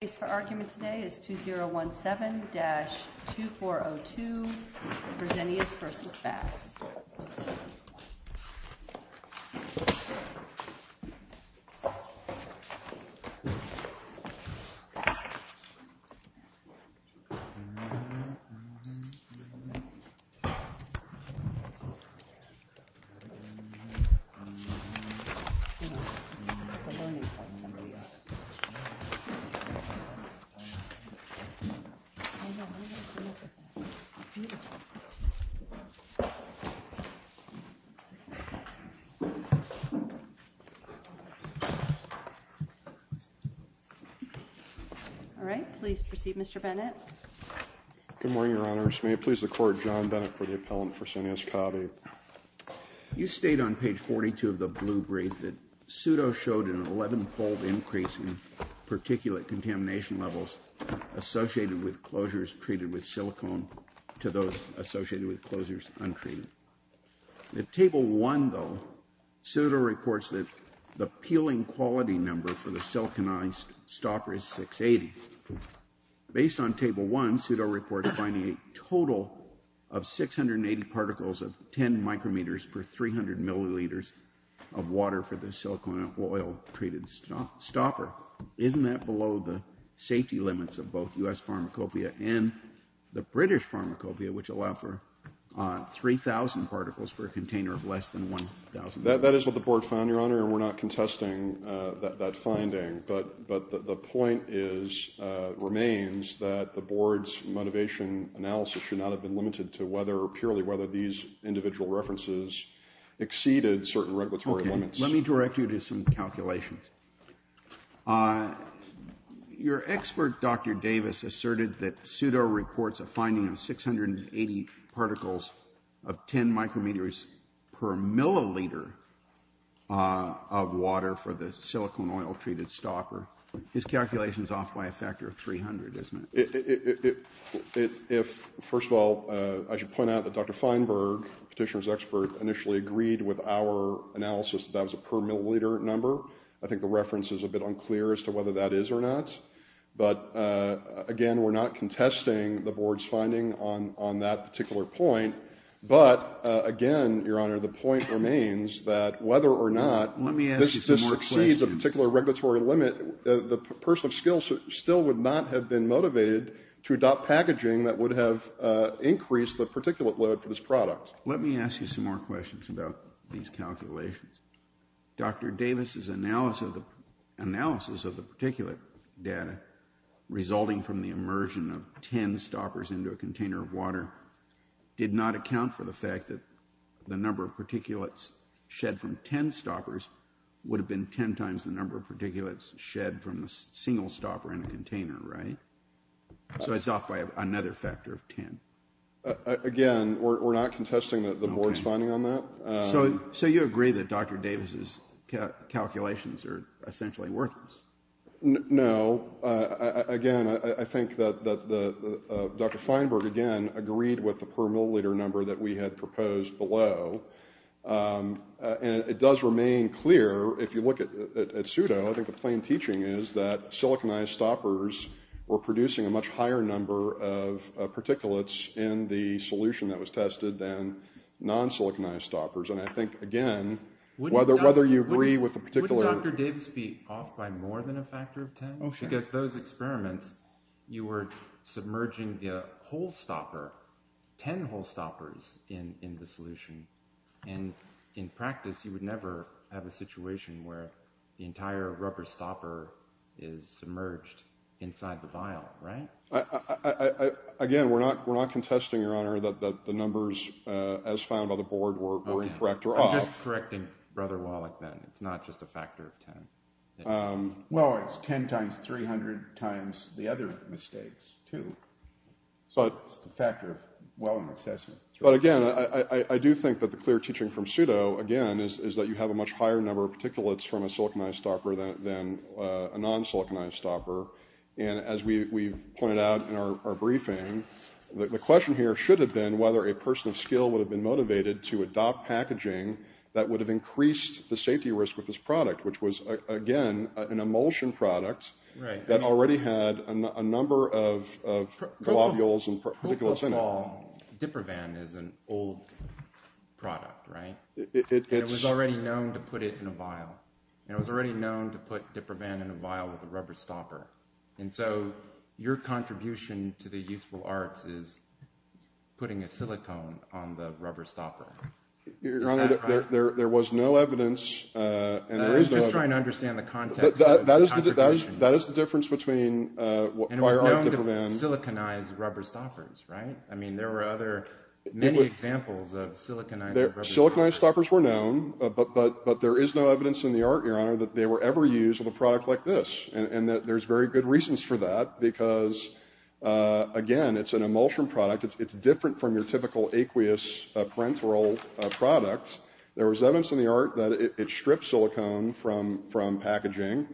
The case for argument today is 2017-2402 Versenius v. Bass Please proceed Mr. Bennett. Good morning Your Honors. May it please the court, John Bennett for the appellant, Versenius Kabi. You state on page 42 of the blue brief that Pseudo showed an 11-fold increase in particulate contamination levels associated with closures treated with silicone to those associated with closures untreated. At table 1, though, Pseudo reports that the peeling quality number for the siliconized stopper is 680. Based on table 1, Pseudo reports finding a total of 680 particles of 10 micrometers per 300 milliliters of water for the silicone and oil treated stopper. Isn't that below the safety limits of both U.S. Pharmacopoeia and the British Pharmacopoeia, which allowed for 3,000 particles for a container of less than 1,000? That is what the board found, Your Honor, and we're not contesting that finding, but the point remains that the board's motivation analysis should not have been limited to whether or purely whether these individual references exceeded certain regulatory limits. Let me direct you to some calculations. Your expert, Dr. Davis, asserted that Pseudo reports a finding of 680 particles of 10 micrometers per milliliter of water for the silicone oil treated stopper. His calculation is off by a factor of 300, isn't it? First of all, I should point out that Dr. Davis initially agreed with our analysis that that was a per milliliter number. I think the reference is a bit unclear as to whether that is or not, but again, we're not contesting the board's finding on that particular point, but again, Your Honor, the point remains that whether or not this exceeds a particular regulatory limit, the person of skill still would not have been motivated to adopt packaging that would have increased the particulate load for this product. Let me ask you some more questions about these calculations. Dr. Davis's analysis of the particulate data resulting from the immersion of 10 stoppers into a container of water did not account for the fact that the number of particulates shed from 10 stoppers would have been 10 times the number of particulates shed from a single stopper in a container, right? So it's off by another factor of 10. Again, we're not contesting the board's finding on that. So you agree that Dr. Davis's calculations are essentially worthless? No. Again, I think that Dr. Feinberg, again, agreed with the per milliliter number that we had proposed below, and it does remain clear if you look at pseudo, I think the plain siliconized stoppers were producing a much higher number of particulates in the solution that was tested than non-siliconized stoppers. And I think, again, whether you agree with the particular... Wouldn't Dr. Davis be off by more than a factor of 10? Because those experiments, you were submerging the whole stopper, 10 whole stoppers in the solution. And in practice, you would never have a situation where the entire rubber stopper is submerged inside the vial, right? Again, we're not contesting, Your Honor, that the numbers as found on the board were correct or off. I'm just correcting Brother Wallach, then. It's not just a factor of 10. Well, it's 10 times 300 times the other mistakes, too. So it's a factor of well in excess. But again, I do think that the clear teaching from pseudo, again, is that you have a much higher number of particulates from a siliconized stopper than a non-siliconized stopper. And as we pointed out in our briefing, the question here should have been whether a person of skill would have been motivated to adopt packaging that would have increased the safety risk with this product, which was, again, an emulsion product that already had a number of globules and particulates in it. Well, Diprovan is an old product, right? And it was already known to put it in a vial. And it was already known to put Diprovan in a vial with a rubber stopper. And so your contribution to the useful arts is putting a silicone on the rubber stopper. Your Honor, there was no evidence, and there is no evidence. I'm just trying to understand the context of the contribution. That is the difference between prior art and Diprovan. Siliconized rubber stoppers, right? I mean, there were many examples of siliconized rubber stoppers. Siliconized stoppers were known, but there is no evidence in the art, Your Honor, that they were ever used with a product like this. And there's very good reasons for that, because, again, it's an emulsion product. It's different from your typical aqueous parenteral product. There was evidence in the art that it stripped silicone from packaging.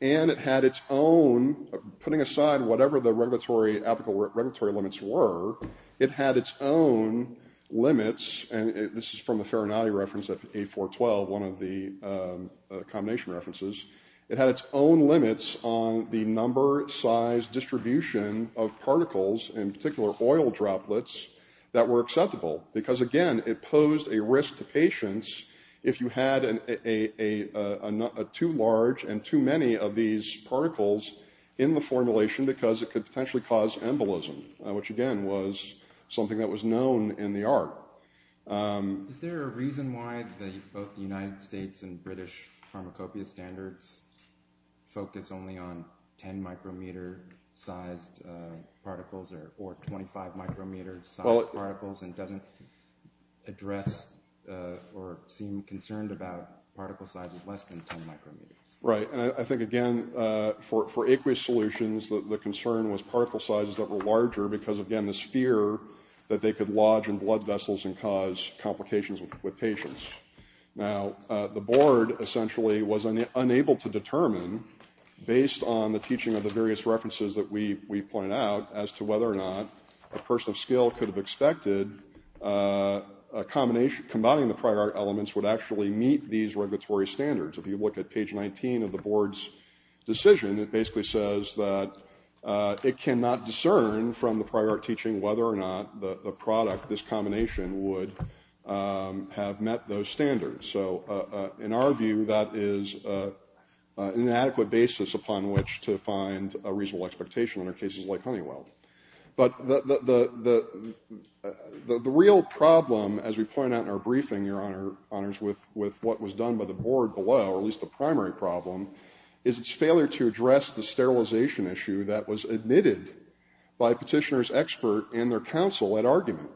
And it had its own, putting aside whatever the regulatory limits were, it had its own limits. And this is from the Ferranati reference of A412, one of the combination references. It had its own limits on the number, size, distribution of particles, in particular oil droplets, that were acceptable. Because, again, it posed a risk to patients if you had too large and too many of these in the formulation, because it could potentially cause embolism, which, again, was something that was known in the art. Is there a reason why both the United States and British pharmacopoeia standards focus only on 10 micrometer sized particles, or 25 micrometer sized particles, and doesn't address or seem concerned about particle sizes less than 10 micrometers? Right. And I think, again, for aqueous solutions, the concern was particle sizes that were larger because, again, this fear that they could lodge in blood vessels and cause complications with patients. Now, the board, essentially, was unable to determine, based on the teaching of the various references that we point out, as to whether or not a person of skill could have expected a combination, combining the prior art elements would actually meet these regulatory standards. If you look at page 19 of the board's decision, it basically says that it cannot discern from the prior art teaching whether or not the product, this combination, would have met those standards. So, in our view, that is an inadequate basis upon which to find a reasonable expectation under cases like Honeywell. But the real problem, as we point out in our briefing, Your Honors, with what was done by the board below, or at least the primary problem, is its failure to address the sterilization issue that was admitted by a petitioner's expert and their counsel at argument.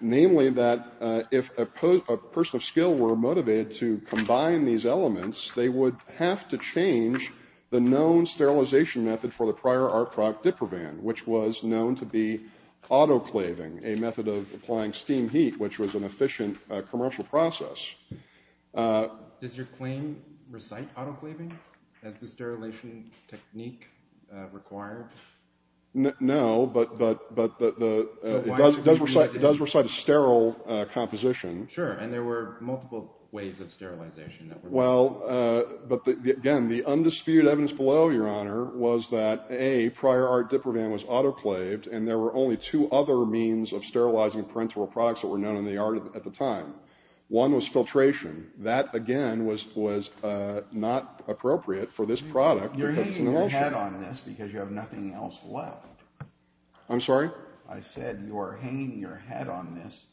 Namely, that if a person of skill were motivated to combine these elements, they would have to change the known sterilization method for the prior art product, Diprovan, which was known to be autoclaving, a method of applying steam heat, which was an efficient commercial process. Does your claim recite autoclaving as the sterilization technique required? No, but it does recite a sterile composition. Sure, and there were multiple ways of sterilization. Well, again, the undisputed evidence below, Your Honor, was that, A, prior art Diprovan was autoclaved, and there were only two other means of sterilizing parenteral products that were known in the art at the time. One was filtration. That, again, was not appropriate for this product because it's an emulsion. You're hanging your head on this because you have nothing else left. I'm sorry? I said you are hanging your head on this,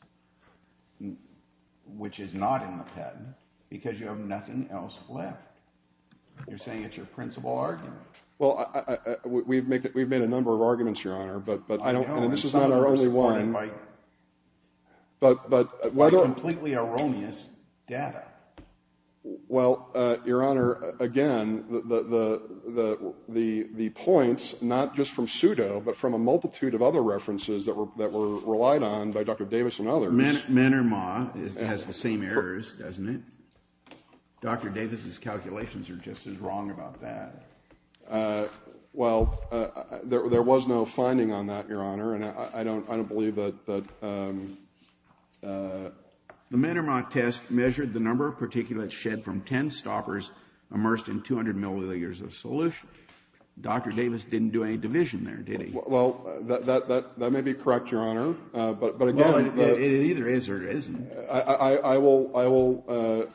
which is not in the patent, because you have nothing else left. You're saying it's your principal argument. Well, we've made a number of arguments, Your Honor, but this is not our only one. But why the completely erroneous data? Well, Your Honor, again, the points, not just from pseudo, but from a multitude of other references that were relied on by Dr. Davis and others. Menermah has the same errors, doesn't it? Dr. Davis's calculations are just as wrong about that. Well, there was no finding on that, Your Honor, and I don't believe that... The Menermah test measured the number of particulates shed from ten stoppers immersed in 200 milliliters of solution. Dr. Davis didn't do any division there, did he? Well, that may be correct, Your Honor, but again... Well, it either is or it isn't. I will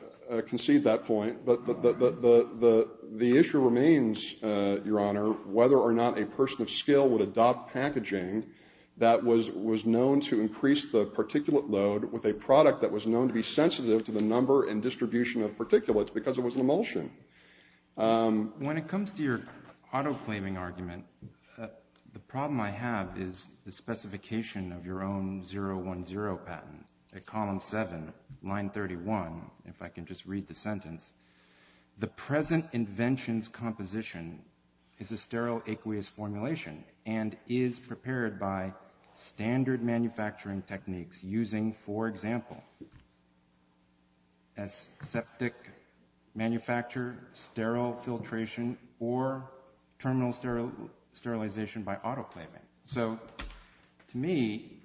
concede that point, but the issue remains, Your Honor, whether or not a person of skill would adopt packaging that was known to increase the particulate load with a product that was known to be sensitive to the number and distribution of particulates because it was an emulsion. When it comes to your auto-claiming argument, the problem I have is the specification of your own 010 patent at column 7, line 31, if I can just read the sentence. The present invention's composition is a sterile aqueous formulation and is prepared by standard manufacturing techniques using, for example, as septic manufacture, sterile filtration, or terminal sterilization by auto-claiming. So to me,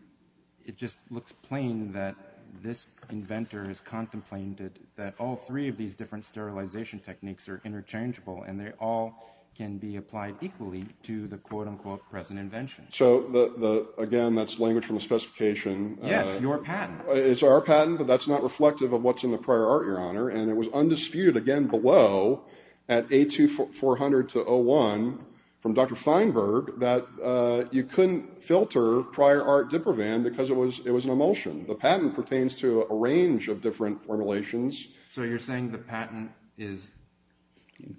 it just looks plain that this inventor has contemplated that all three of these different sterilization techniques are interchangeable and they all can be applied equally to the quote-unquote present invention. So again, that's language from the specification. Yes, your patent. It's our patent, but that's not reflective of what's in the prior art, Your Honor, and it was prior art diprovan because it was an emulsion. The patent pertains to a range of different formulations. So you're saying the patent is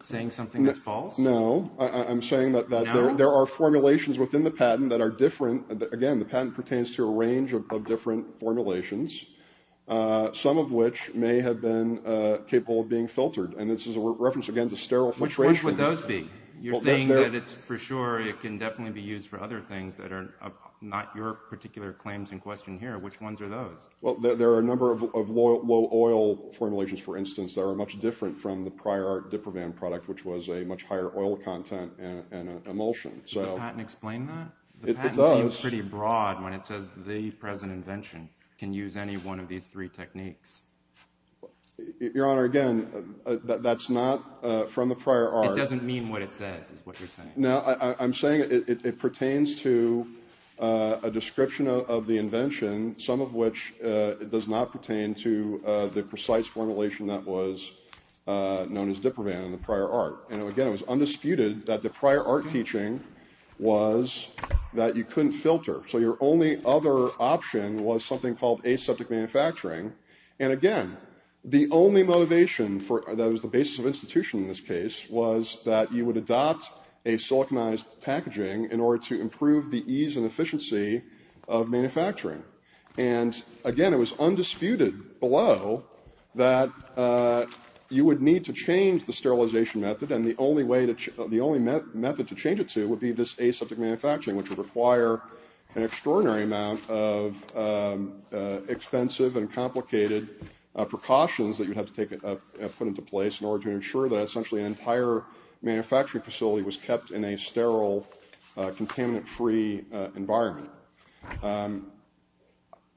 saying something that's false? No. I'm saying that there are formulations within the patent that are different. Again, the patent pertains to a range of different formulations, some of which may have been capable of being filtered, and this is a reference, again, to sterile filtration. Which would those be? You're saying that it's for sure it can definitely be used for other things that are not your particular claims in question here. Which ones are those? Well, there are a number of low oil formulations, for instance, that are much different from the prior art diprovan product, which was a much higher oil content and emulsion. Does the patent explain that? It does. The patent seems pretty broad when it says the present invention can use any one of these three techniques. Your Honor, again, that's not from the prior art. That doesn't mean what it says is what you're saying. No, I'm saying it pertains to a description of the invention, some of which does not pertain to the precise formulation that was known as diprovan in the prior art. And, again, it was undisputed that the prior art teaching was that you couldn't filter. So your only other option was something called aseptic manufacturing. And, again, the only motivation that was the basis of institution in this case was that you would adopt a siliconized packaging in order to improve the ease and efficiency of manufacturing. And, again, it was undisputed below that you would need to change the sterilization method, and the only method to change it to would be this aseptic manufacturing, which would require an extraordinary amount of expensive and complicated precautions that you'd have to put into place in order to ensure that essentially an entire manufacturing facility was kept in a sterile, contaminant-free environment.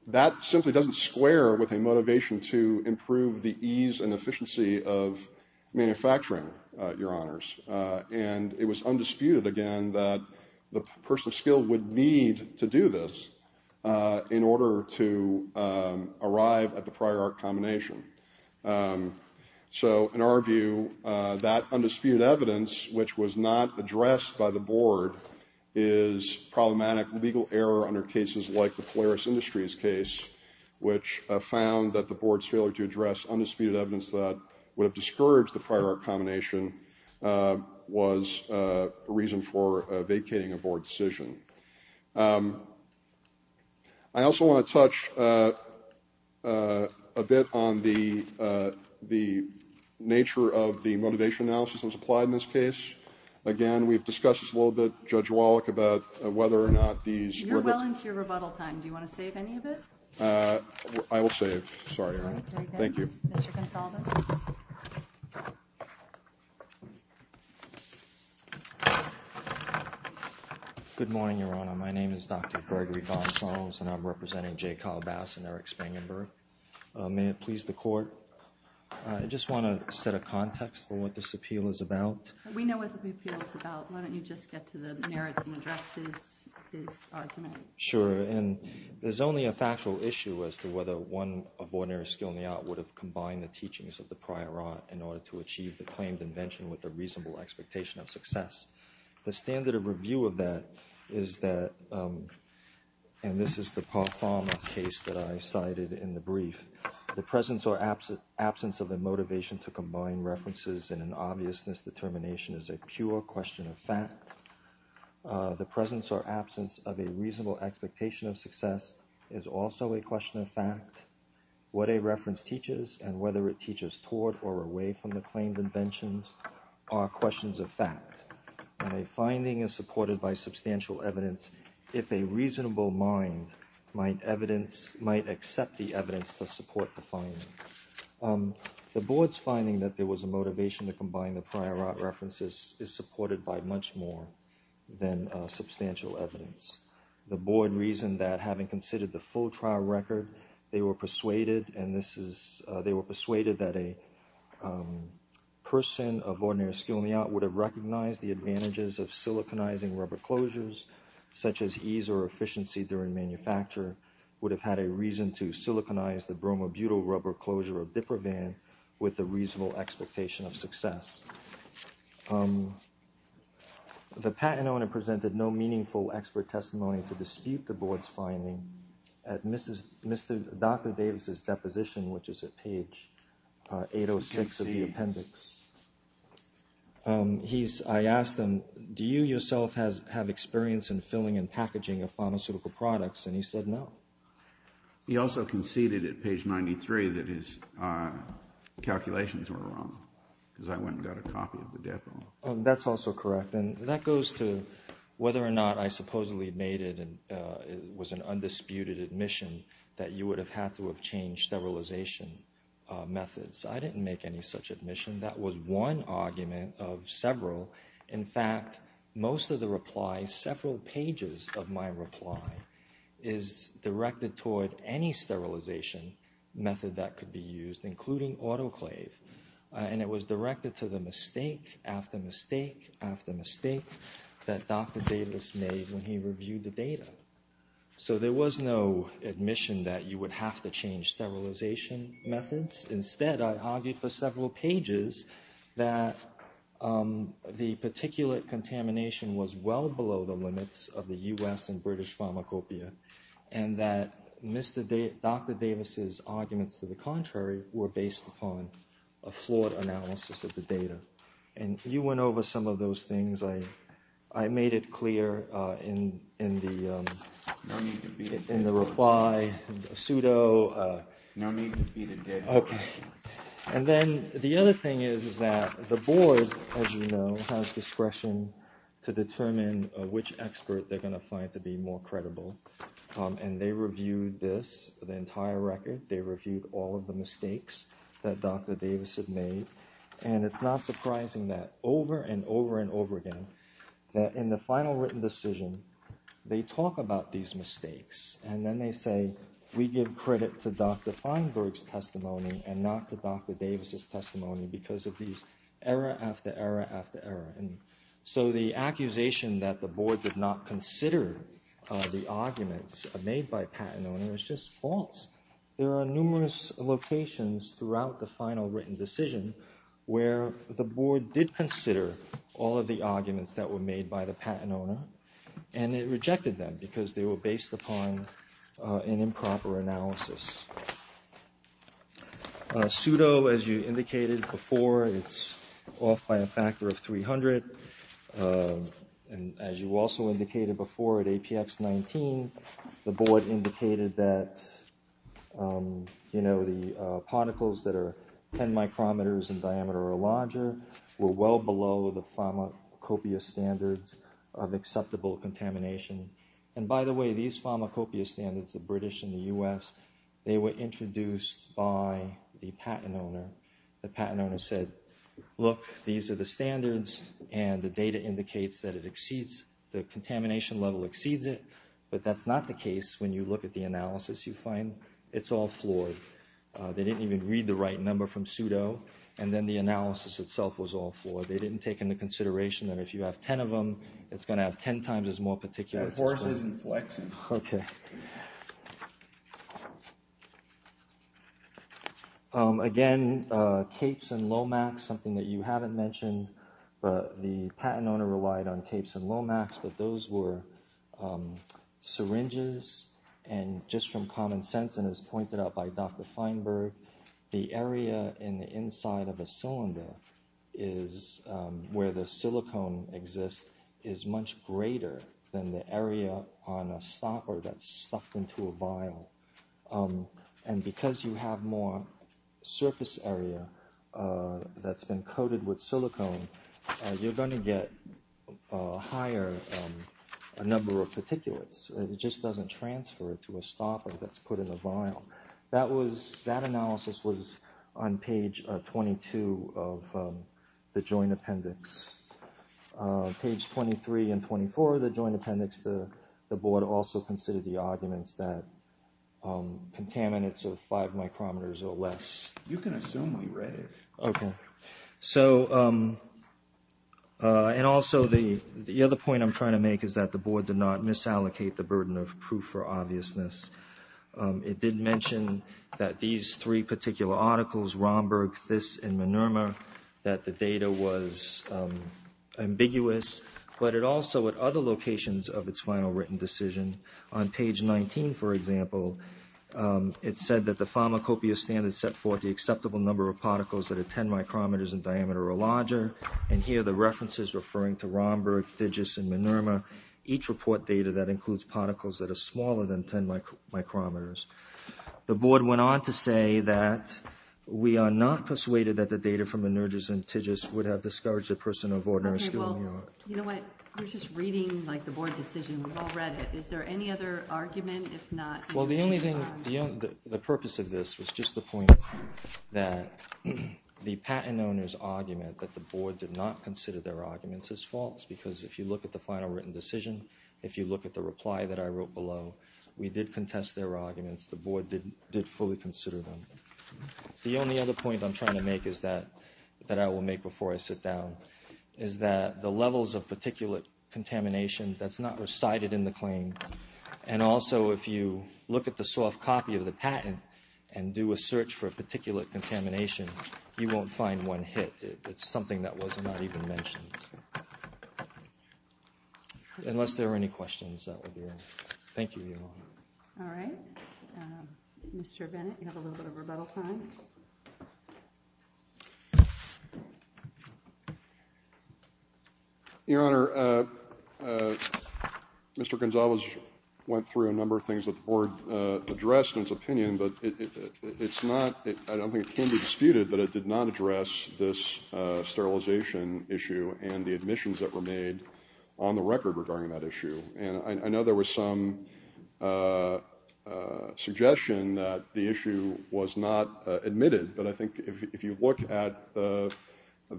That simply doesn't square with a motivation to improve the ease and efficiency of manufacturing, Your Honors. And it was undisputed, again, that the person of skill would need to do this in order to arrive at the prior art combination. So, in our view, that undisputed evidence, which was not addressed by the Board, is problematic legal error under cases like the Polaris Industries case, which found that the Board's failure to address undisputed evidence that would have discouraged the prior art combination was a reason for vacating a Board decision. I also want to touch a bit on the nature of the motivation analysis that was applied in this case. Again, we've discussed this a little bit, Judge Wallach, about whether or not these were the – You're well into your rebuttal time. Do you want to save any of it? I will save. Sorry, Erin. Thank you. Mr. Gonsalves? Good morning, Your Honor. My name is Dr. Gregory Gonsalves, and I'm representing J. Kyle Bass and Eric Spangenberg. May it please the Court, I just want to set a context for what this appeal is about. We know what the appeal is about. Why don't you just get to the merits and address his argument? Sure. And there's only a factual issue as to whether one of ordinary skill in the art would have combined the teachings of the prior art in order to achieve the claimed invention with a reasonable expectation of success. The standard of review of that is that – and this is the Parfum case that I cited in the brief – the presence or absence of a motivation to combine references in an obviousness determination is a pure question of fact. The presence or absence of a reasonable expectation of success is also a question of fact. What a reference teaches and whether it teaches toward or away from the claimed inventions are questions of fact. And a finding is supported by substantial evidence if a reasonable mind might accept the evidence to support the finding. The Board's finding that there was a motivation to combine the prior art references is supported by much more than substantial evidence. The Board reasoned that having considered the full trial record, they were persuaded that a person of ordinary skill in the art would have recognized the advantages of siliconizing rubber closures, such as ease or efficiency during manufacture, would have had a reason to siliconize the bromobutyl rubber closure of DIPRAVAN with a reasonable expectation of success. The patent owner presented no meaningful expert testimony to dispute the Board's finding at Dr. Davis' deposition, which is at page 806 of the appendix. I asked him, do you yourself have experience in filling and packaging of pharmaceutical products, and he said no. He also conceded at page 93 that his calculations were wrong, because I went and got a copy of the DIPRAVAN. That's also correct, and that goes to whether or not I supposedly made it and it was an undisputed admission that you would have had to have changed sterilization methods. I didn't make any such admission. That was one argument of several. In fact, most of the replies, several pages of my reply is directed toward any sterilization method that could be used, including autoclave. And it was directed to the mistake after mistake after mistake that Dr. Davis made when he reviewed the data. So there was no admission that you would have to change sterilization methods. Instead, I argued for several pages that the particulate contamination was well below the limits of the U.S. and British pharmacopoeia, and that Dr. Davis' arguments to the contrary were based upon a flawed analysis of the data. And you went over some of those things. I made it clear in the reply, pseudo. And then the other thing is that the board, as you know, has discretion to determine which expert they're going to find to be more credible. And they reviewed this, the entire record. They reviewed all of the mistakes that Dr. Davis had made. And it's not surprising that over and over and over again, that in the final written decision, they talk about these mistakes. And then they say, we give credit to Dr. Feinberg's testimony and not to Dr. Davis' testimony because of these error after error after error. And so the accusation that the board did not consider the arguments made by Pat and Ona was just false. There are numerous locations throughout the final written decision where the board did consider all of the arguments that were made by the Pat and Ona. And it rejected them because they were based upon an improper analysis. Pseudo, as you indicated before, it's off by a factor of 300. And as you also indicated before at APX-19, the board indicated that the particles that are 10 micrometers in diameter or larger were well below the pharmacopoeia standards of acceptable contamination. And by the way, these pharmacopoeia standards, the British and the US, they were introduced by the Pat and Ona. The Pat and Ona said, look, these are the standards and the data indicates that it exceeds, the contamination level exceeds it. But that's not the case when you look at the analysis you find. It's all flawed. They didn't even read the right number from pseudo. And then the analysis itself was all flawed. They didn't take into consideration that if you have 10 of them, it's going to have 10 times as more particulates. OK. Again, CAPES and Lomax, something that you haven't mentioned, the Pat and Ona relied on CAPES and Lomax, but those were syringes. And just from common sense and as pointed out by Dr. Feinberg, the area in the inside of a cylinder is where the silicone exists is much greater than the area on a stopper that's stuffed into a vial. And because you have more surface area that's been coated with silicone, you're going to get a higher number of particulates. It just doesn't transfer to a stopper that's put in the vial. That analysis was on page 22 of the joint appendix. Page 23 and 24 of the joint appendix, the board also considered the arguments that contaminants of five micrometers or less. You can assume we read it. OK. And also, the other point I'm trying to make is that the board did not misallocate the burden of proof for obviousness. It did mention that these three particular articles, Romberg, This, and Minerma, that the data was ambiguous, but it also, at other locations of its final written decision, on page 19, for example, it said that the pharmacopoeia standard set forth the acceptable number of particles that are 10 micrometers in diameter or larger. And here are the references referring to Romberg, This, and Minerma. Each report data that includes particles that are smaller than 10 micrometers. The board went on to say that we are not persuaded that the data from Minergis and This would have discouraged a person of ordinary skill. OK, well, you know what? We're just reading the board decision. We've all read it. Is there any other argument, if not? Well, the only thing, the purpose of this was just the point that the patent owner's argument that the board did not consider their arguments as false. Because if you look at the final written decision, if you look at the reply that I wrote below, we did contest their arguments. The board did fully consider them. The only other point I'm trying to make is that, that I will make before I sit down, is that the levels of particulate contamination that's not recited in the claim. And also, if you look at the soft copy of the patent and do a search for particulate contamination, you won't find one hit. It's something that was not even mentioned. Unless there are any questions, that would be all. Thank you, Your Honor. All right. Mr. Bennett, you have a little bit of rebuttal time. Your Honor, Mr. Gonzalez went through a number of things that the board addressed in its opinion, but it's not, I don't think it can be disputed, but it did not address this sterilization issue and the admissions that were made on the record regarding that issue. And I know there was some suggestion that the issue was not admitted, but I think if you look at the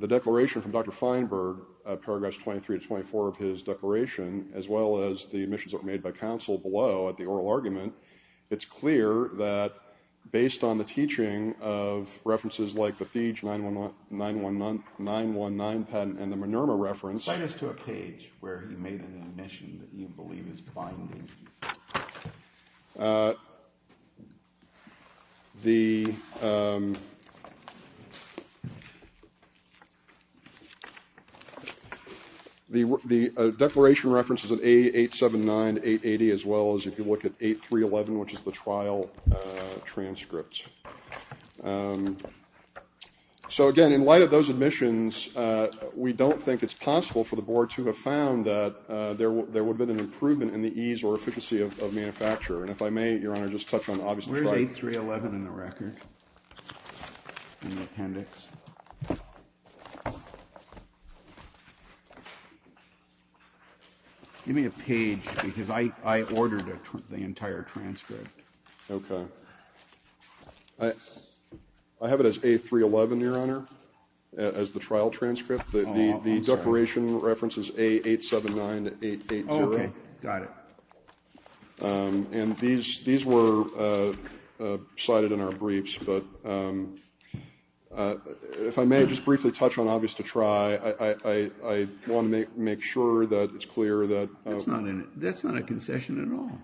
declaration from Dr. Feinberg, paragraphs 23 to 24 of his declaration, as well as the admissions that were made by counsel below at the oral argument, it's clear that based on the teaching of references like the Thiege 919 patent and the Minerma reference. Cite us to a page where he made an admission that you believe is binding. The declaration references an A879-880, as well as if you look at 8311, which is the trial transcript. So, again, in light of those admissions, we don't think it's possible for the board to have found that there would have been an improvement in the ease or efficiency of manufacture. And if I may, Your Honor, just touch on the obvious. Where's 8311 in the record, in the appendix? Give me a page, because I ordered the entire transcript. Okay. I have it as A311, Your Honor, as the trial transcript. The declaration references A879-880. Okay, got it. And these were cited in our briefs, but if I may just briefly touch on obvious to try, I want to make sure that it's clear that – That's not a concession at all.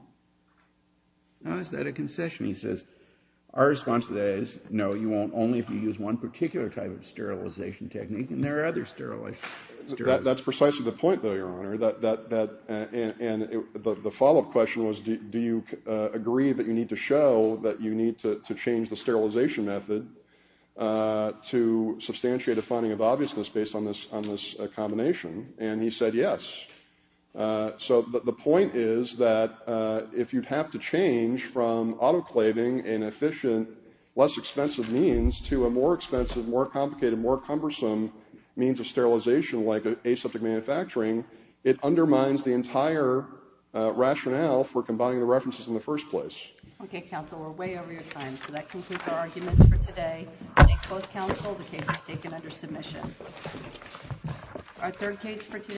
No, is that a concession? He says, our response to that is, no, you won't, only if you use one particular type of sterilization technique, and there are other sterilizations. That's precisely the point, though, Your Honor, and the follow-up question was, do you agree that you need to show that you need to change the sterilization method to substantiate a finding of obviousness based on this combination? And he said yes. So the point is that if you'd have to change from autoclaving an efficient, less expensive means to a more expensive, more complicated, more cumbersome means of sterilization, like aseptic manufacturing, it undermines the entire rationale for combining the references in the first place. Okay, counsel, we're way over your time, so that concludes our arguments for today. Thank both counsel. The case is taken under submission. Our third case for today.